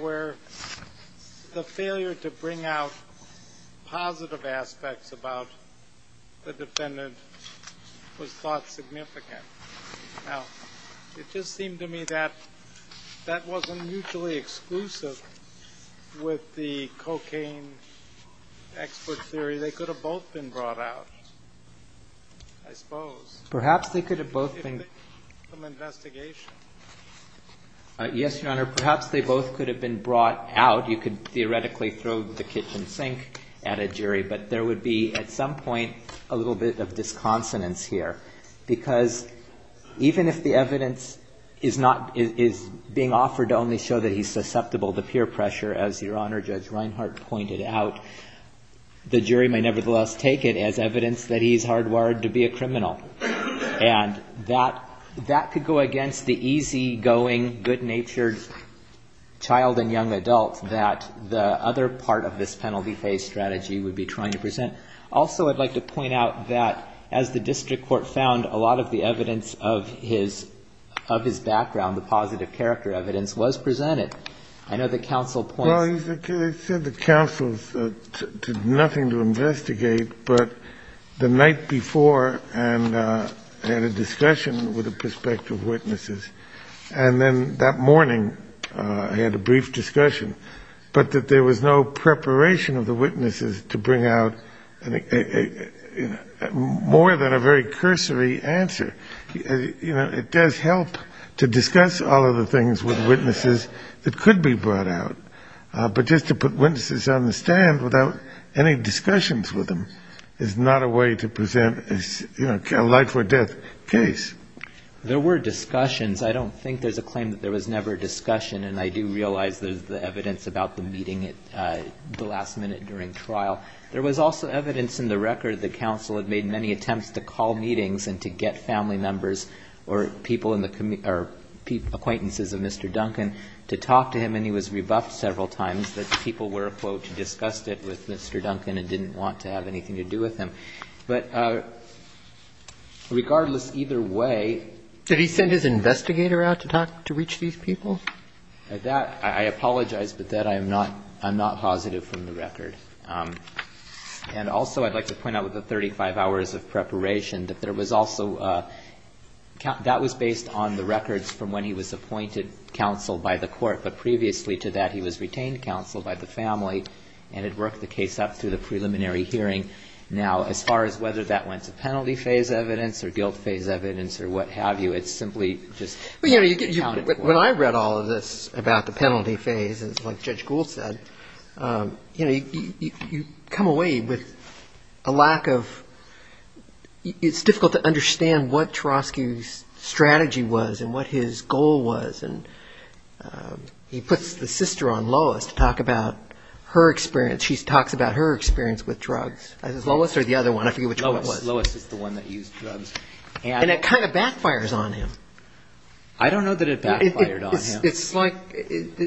where the failure to bring out positive aspects about the defendant was thought significant. Now, it just seemed to me that that wasn't mutually exclusive with the cocaine expert theory. They could have both been brought out, I suppose. Perhaps they could have both been. Yes, Your Honor, perhaps they both could have been brought out. You could theoretically throw the kitchen sink at a jury, but there would be, at some point, a little bit of disconsonance here. Because even if the evidence is being offered to only show that he's susceptible to peer pressure, as Your Honor, Judge Reinhart pointed out, the jury may nevertheless take it as evidence that he's hardwired to be a criminal. And that could go against the easygoing, good-natured child and young adult that the other part of this penalty-phase strategy would be trying to present. Also, I'd like to point out that, as the district court found, a lot of the evidence of his background, the positive character evidence, was presented. I know that counsel points... I know that counsel pointed out that, as the district court found, a lot of the evidence of his background, the positive character evidence, was presented. And then that morning, I had a brief discussion, but that there was no preparation of the witnesses to bring out more than a very cursory answer. It does help to discuss all of the things with witnesses that could be brought out, but just to put witnesses on the stand without any discussions with them. It's not a way to present a life-or-death case. There were discussions. I don't think there's a claim that there was never a discussion, and I do realize there's the evidence about the meeting at the last minute during trial. There was also evidence in the record that counsel had made many attempts to call meetings and to get family members or people in the... or acquaintances of Mr. Duncan to talk to him, and he was rebuffed several times that people were, quote, disgusted with Mr. Duncan and didn't want to have anything to do with him. But regardless, either way... Did he send his investigator out to talk, to reach these people? That, I apologize, but that I'm not positive from the record. And also I'd like to point out with the 35 hours of preparation that there was also a... that was based on the records from when he was appointed counsel by the court. But previously to that, he was retained counsel by the family and had worked the case up through the preliminary hearing. Now, as far as whether that went to penalty phase evidence or guilt phase evidence or what have you, it's simply just... When I read all of this about the penalty phase, it's like Judge Gould said, you come away with a lack of... it's difficult to understand what Trosky's strategy was and what his goal was, and he puts the sister on Lois to talk about her experience. Lois is the one that used drugs. And it kind of backfires on him. I don't know that it backfired on him. It's like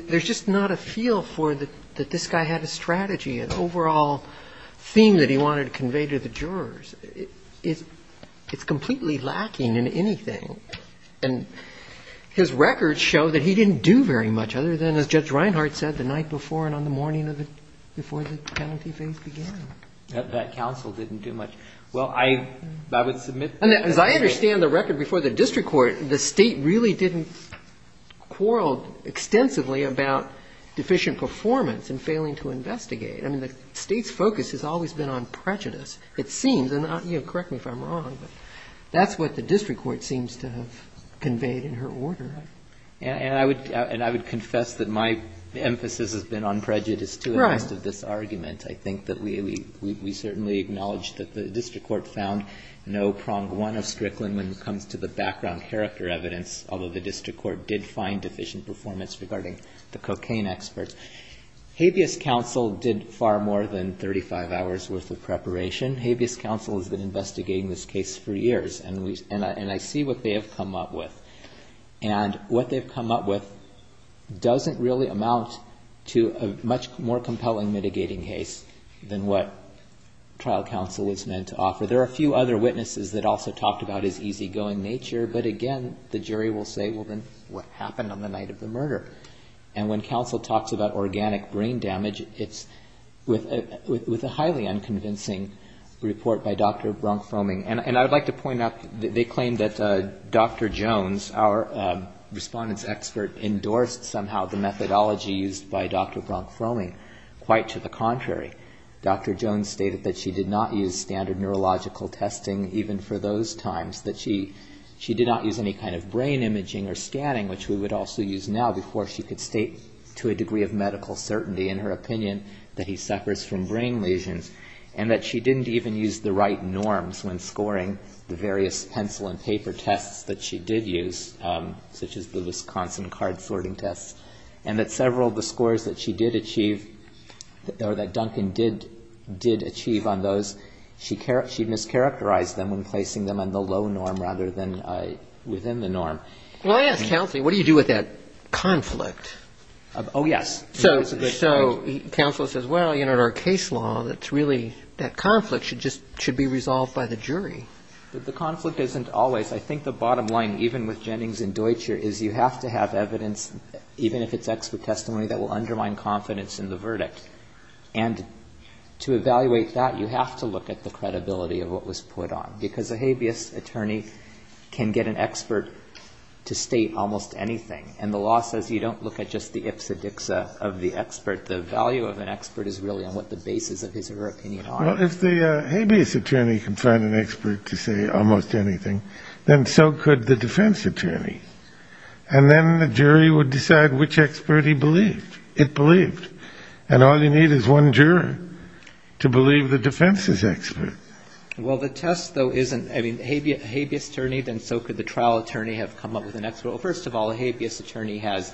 there's just not a feel for that this guy had a strategy, an overall theme that he wanted to convey to the jurors. It's completely lacking in anything. And his records show that he didn't do very much other than, as Judge Reinhart said, the night before and on the morning before the penalty phase began. That counsel didn't do much. As I understand the record before the district court, the State really didn't quarrel extensively about deficient performance and failing to investigate. I mean, the State's focus has always been on prejudice, it seems. And correct me if I'm wrong, but that's what the district court seems to have conveyed in her order. And I would confess that my emphasis has been on prejudice, too, in most of this argument. I think that we certainly acknowledge that the district court found no prong one of Strickland when it comes to the background character evidence, although the district court did find deficient performance regarding the cocaine experts. Habeas counsel did far more than 35 hours worth of preparation. Habeas counsel has been investigating this case for years, and I see what they have come up with. And what they've come up with doesn't really amount to a much more compelling mitigating case than what trial counsel was meant to offer. There are a few other witnesses that also talked about his easygoing nature, but again, the jury will say, well, then, what happened on the night of the murder? And when counsel talks about organic brain damage, it's with a highly unconvincing report by Dr. Bronk-Froeming. And I would like to point out that they claim that Dr. Jones, our respondents expert, endorsed somehow the methodology used by Dr. Bronk-Froeming. Quite to the contrary, Dr. Jones stated that she did not use standard neurological testing even for those times, that she did not use any kind of brain imaging or scanning, which we would also use now, before she could state to a degree of medical certainty in her opinion that he suffers from brain lesions, and that she didn't even use the right norms when scoring the various pencil and paper tests that she did use, such as the Wisconsin card sorting tests, and that several of the scores that she did achieve or that Duncan did achieve on those, she mischaracterized them when placing them on the low norm rather than within the norm. Well, I ask counsel, what do you do with that conflict? Oh, yes. So counsel says, well, you know, in our case law, that's really, that conflict should just, should be resolved by the jury. The conflict isn't always. I think the bottom line, even with Jennings and Deutscher, is you have to have evidence, even if it's expert testimony, that will undermine confidence in the verdict. And to evaluate that, you have to look at the credibility of what was put on, because a habeas attorney can get an expert to state almost anything. And the law says you don't look at just the ipsa dixa of the expert. The value of an expert is really on what the basis of his or her opinion are. Well, if the habeas attorney can find an expert to say almost anything, then so could the defense attorney. And then the jury would decide which expert he believed, it believed. And all you need is one juror to believe the defense is expert. Well, the test, though, isn't. I mean, habeas attorney, then so could the trial attorney, have come up with an expert. Well, first of all, a habeas attorney has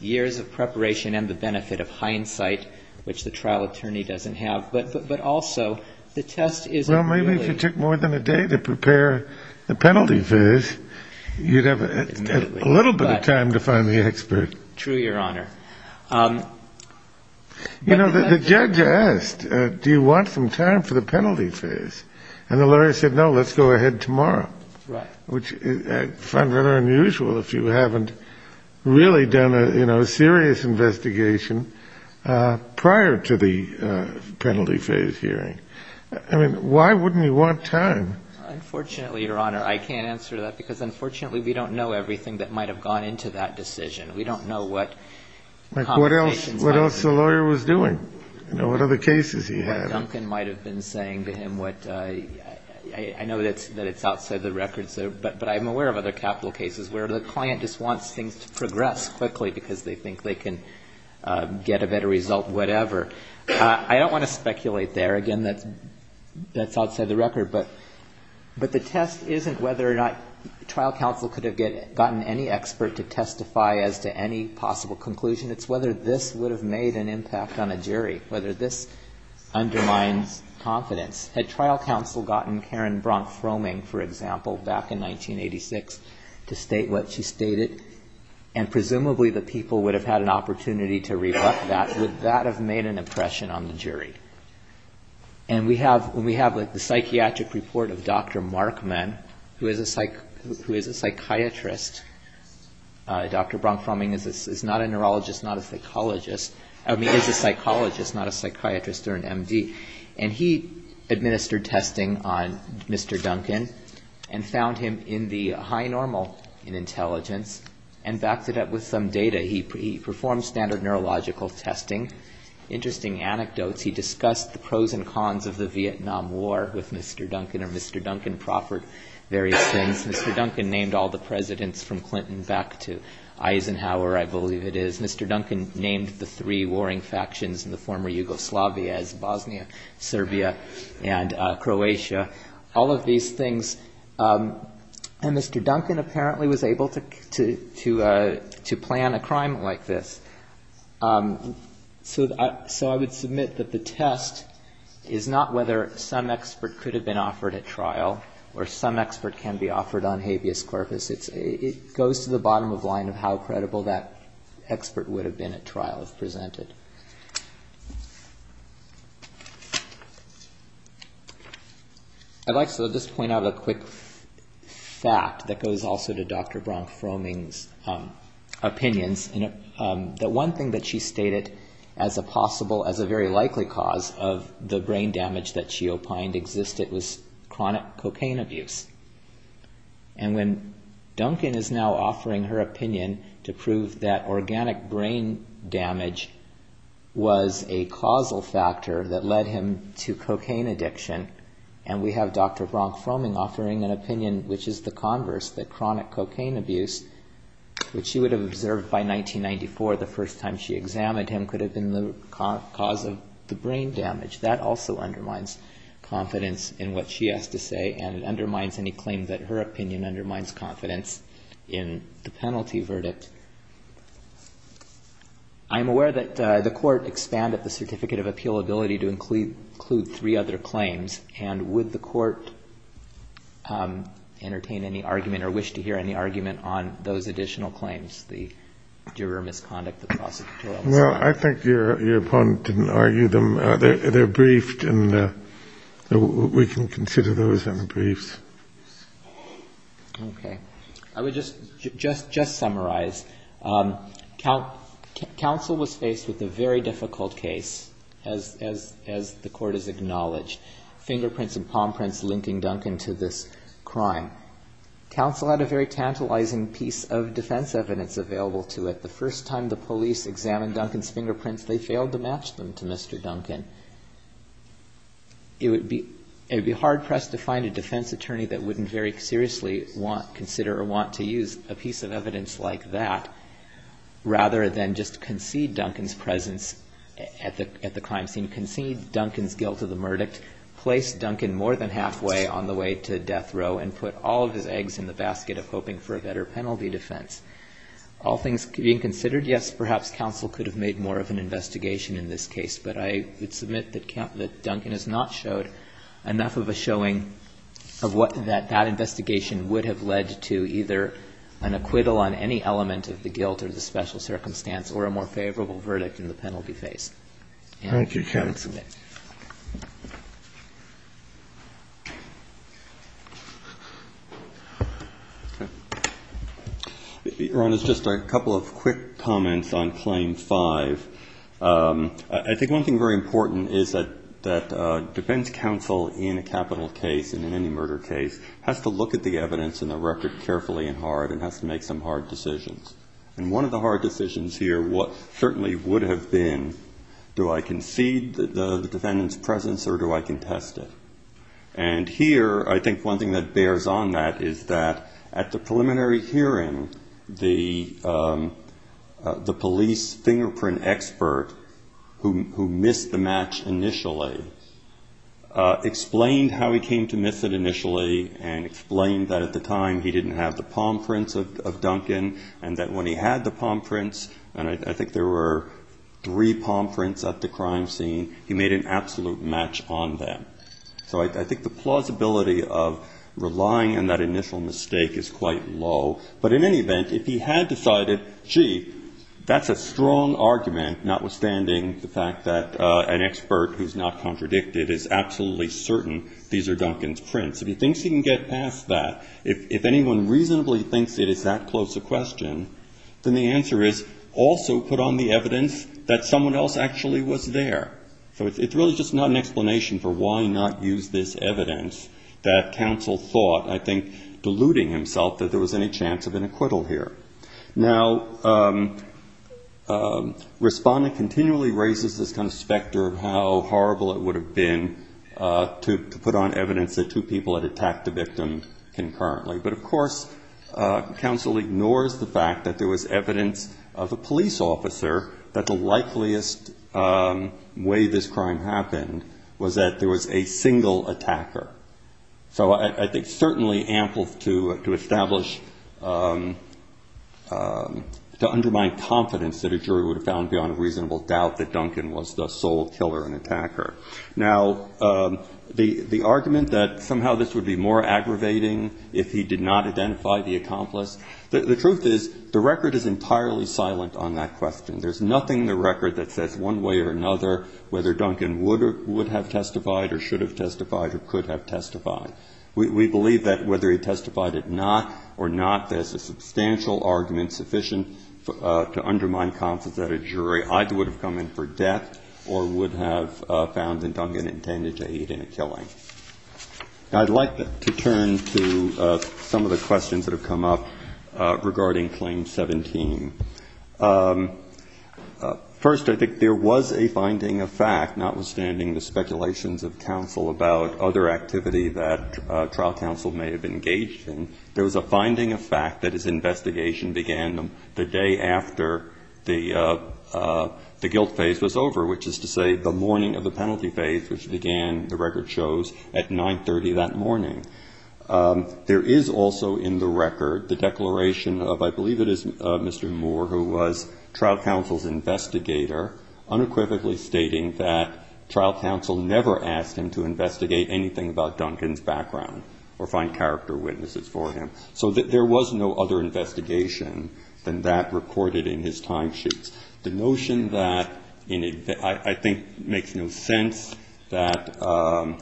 years of preparation and the benefit of hindsight, which the trial attorney doesn't have. But also, the test isn't really. Well, maybe if you took more than a day to prepare the penalty verse, you'd have a little bit of time to find the expert. True, Your Honor. You know, the judge asked, do you want some time for the penalty phase? And the lawyer said, no, let's go ahead tomorrow. Right. Which I find rather unusual if you haven't really done a serious investigation prior to the penalty phase hearing. I mean, why wouldn't you want time? Unfortunately, Your Honor, I can't answer that, because unfortunately we don't know everything that might have gone into that decision. We don't know what conversations happened. Like what else the lawyer was doing. You know, what other cases he had. What Duncan might have been saying to him. I know that it's outside the record, but I'm aware of other capital cases where the client just wants things to progress quickly because they think they can get a better result, whatever. I don't want to speculate there. Again, that's outside the record. But the test isn't whether or not trial counsel could have gotten any expert to testify as to any possible conclusion. It's whether this would have made an impact on a jury, whether this undermines confidence. Had trial counsel gotten Karen Bronk-Froeming, for example, back in 1986 to state what she stated, and presumably the people would have had an opportunity to reflect that, would that have made an impression on the jury? And we have the psychiatric report of Dr. Markman, who is a psychiatrist. Dr. Bronk-Froeming is not a neurologist, not a psychologist. I mean, is a psychologist, not a psychiatrist or an MD. And he administered testing on Mr. Duncan and found him in the high normal in intelligence and backed it up with some data. He performed standard neurological testing. Interesting anecdotes, he discussed the pros and cons of the Vietnam War with Mr. Duncan, and Mr. Duncan proffered various things. Mr. Duncan named all the presidents from Clinton back to Eisenhower, I believe it is. Mr. Duncan named the three warring factions in the former Yugoslavia as Bosnia, Serbia, and Croatia. All of these things, and Mr. Duncan apparently was able to plan a crime like this. So I would submit that the test is not whether some expert could have been offered at trial or some expert can be offered on habeas corpus. It goes to the bottom of the line of how credible that expert would have been at trial if presented. I'd like to just point out a quick fact that goes also to Dr. Bronk-Froeming's opinions that one thing that she stated as a possible, as a very likely cause of the brain damage that she opined existed was chronic cocaine abuse. And when Duncan is now offering her opinion to prove that organic brain damage was a causal factor that led him to cocaine addiction, and we have Dr. Bronk-Froeming offering an opinion which is the converse, that chronic cocaine abuse, which she would have observed by 1994 the first time she examined him, could have been the cause of the brain damage. That also undermines confidence in what she has to say and undermines any claim that her opinion undermines confidence in the penalty verdict. I'm aware that the court expanded the Certificate of Appeal ability to include three other claims, and would the court entertain any argument or wish to hear any argument on those additional claims, the juror misconduct, the prosecutorial misconduct? Well, I think your opponent didn't argue them. They're briefed, and we can consider those in the briefs. Okay. I would just summarize. Counsel was faced with a very difficult case, as the court has acknowledged, fingerprints and palm prints linking Duncan to this crime. Counsel had a very tantalizing piece of defense evidence available to it. The first time the police examined Duncan's fingerprints, they failed to match them to Mr. Duncan. It would be hard-pressed to find a defense attorney that wouldn't very seriously consider or want to use a piece of evidence like that, rather than just concede Duncan's presence at the crime scene, concede Duncan's guilt of the verdict, place Duncan more than halfway on the way to death row, and put all of his eggs in the basket of hoping for a better penalty defense. All things being considered, yes, perhaps counsel could have made more of an investigation in this case, but I would submit that Duncan has not showed enough of a showing of what that investigation would have led to, either an acquittal on any element of the guilt or the special circumstance, or a more favorable verdict in the penalty phase. Thank you, counsel. Ron, just a couple of quick comments on Claim 5. I think one thing very important is that defense counsel in a capital case and in any murder case has to look at the evidence in the record carefully and hard and has to make some hard decisions. And one of the hard decisions here certainly would have been, do I concede the defendant's presence or do I contest it? And here, I think one thing that bears on that is that at the preliminary hearing, the police fingerprint expert who missed the match initially explained how he came to miss it initially and explained that at the time he didn't have the palm prints of Duncan and that when he had the palm prints, and I think there were three palm prints at the crime scene, he made an absolute match on them. So I think the plausibility of relying on that initial mistake is quite low. But in any event, if he had decided, gee, that's a strong argument, notwithstanding the fact that an expert who's not contradicted is absolutely certain these are Duncan's prints, if he thinks he can get past that, if anyone reasonably thinks it is that close a question, then the answer is also put on the evidence that someone else actually was there. So it's really just not an explanation for why not use this evidence that counsel thought, I think, deluding himself that there was any chance of an acquittal here. Now, Respondent continually raises this kind of specter of how horrible it would have been to put on evidence that two people had attacked the victim concurrently. But, of course, counsel ignores the fact that there was evidence of a police officer that the likeliest way this crime happened was that there was a single attacker. So I think certainly ample to establish, to undermine confidence that a jury would have found beyond a reasonable doubt that Duncan was the sole killer and attacker. Now, the argument that somehow this would be more aggravating if he did not identify the accomplice, the truth is, the record is entirely silent on that question. There's nothing in the record that says one way or another whether Duncan would have testified or should have testified or could have testified. We believe that whether he testified or not, there's a substantial argument sufficient to undermine confidence that a jury either would have come in for death or would have found that Duncan intended to aid in a killing. Now, I'd like to turn to some of the questions that have come up regarding Claim 17. First, I think there was a finding of fact, notwithstanding the speculations of counsel about other activities, that trial counsel may have engaged in, there was a finding of fact that his investigation began the day after the guilt phase was over, which is to say the morning of the penalty phase, which began, the record shows, at 9.30 that morning. There is also in the record the declaration of, I believe it is Mr. Moore, who was trial counsel's investigator, unequivocally stating that trial counsel never asked him to investigate anything about Duncan's background or find character witnesses for him. So there was no other investigation than that recorded in his timesheets. The notion that, I think makes no sense, that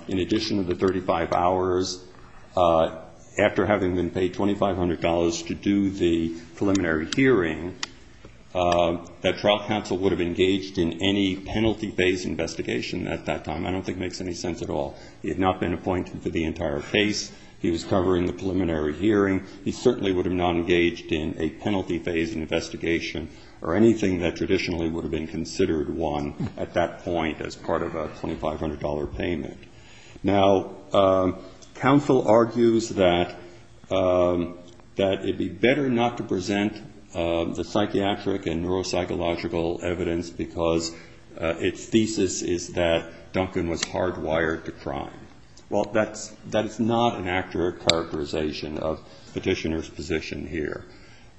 in addition to the 35 hours after having been paid $2,500 to do the preliminary hearing, that trial counsel would have engaged in any penalty phase investigation at that time, I don't think makes any sense at all. He had not been appointed for the entire case, he was covering the preliminary hearing, he certainly would have not engaged in a penalty phase investigation or anything that traditionally would have been considered one at that point as part of a $2,500 payment. Now, counsel argues that it would be better not to present the psychiatric and neuropsychological evidence of Duncan's guilt because its thesis is that Duncan was hardwired to crime. Well, that is not an accurate characterization of petitioner's position here.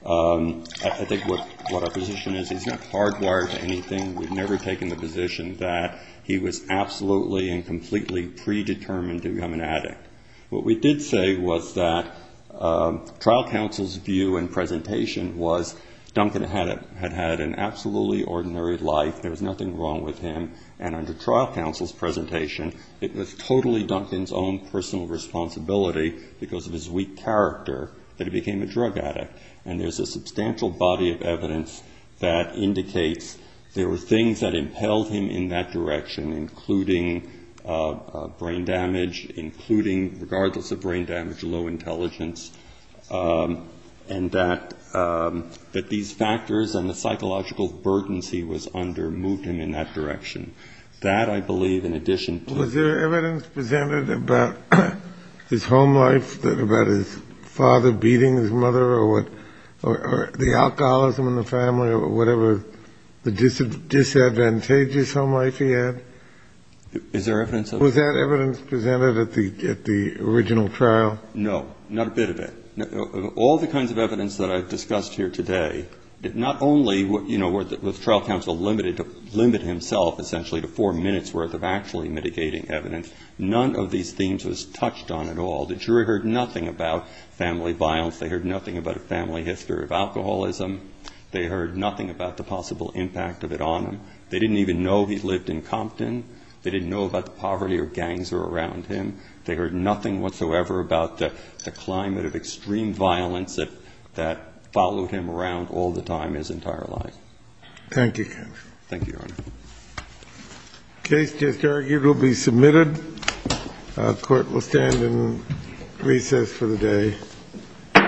I think what our position is, he's not hardwired to anything, we've never taken the position that he was absolutely and completely predetermined to become an addict. What we did say was that trial counsel's view and presentation was Duncan had had an absolutely ordinary life. There was nothing wrong with him, and under trial counsel's presentation, it was totally Duncan's own personal responsibility because of his weak character that he became a drug addict. And there's a substantial body of evidence that indicates there were things that impelled him in that direction, including brain damage, including regardless of brain damage, low intelligence, and that these factors and the psychological burdens he was under moved him in that direction. That, I believe, in addition to... Was there evidence presented about his home life, about his father beating his mother, or the alcoholism in the family, or whatever disadvantageous home life he had? Was that evidence presented at the original trial? No, not a bit of it. All the kinds of evidence that I've discussed here today, not only was trial counsel limited to limit himself essentially to four minutes worth of actually mitigating evidence, none of these themes was touched on at all. The jury heard nothing about family violence, they heard nothing about a family history of alcoholism, they heard nothing about the possible impact of it on him. They didn't even know he lived in Compton, they didn't know about the poverty or gangs that were around him, they heard nothing whatsoever about the climate of extreme violence that followed him around all the time his entire life. Thank you, counsel. The case just argued will be submitted. The Court will stand in recess for the day. The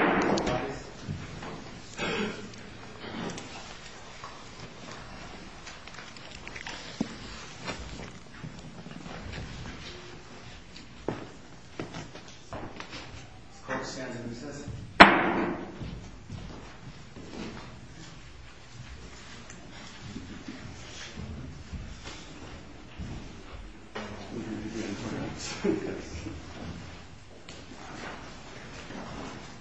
Court stands in recess.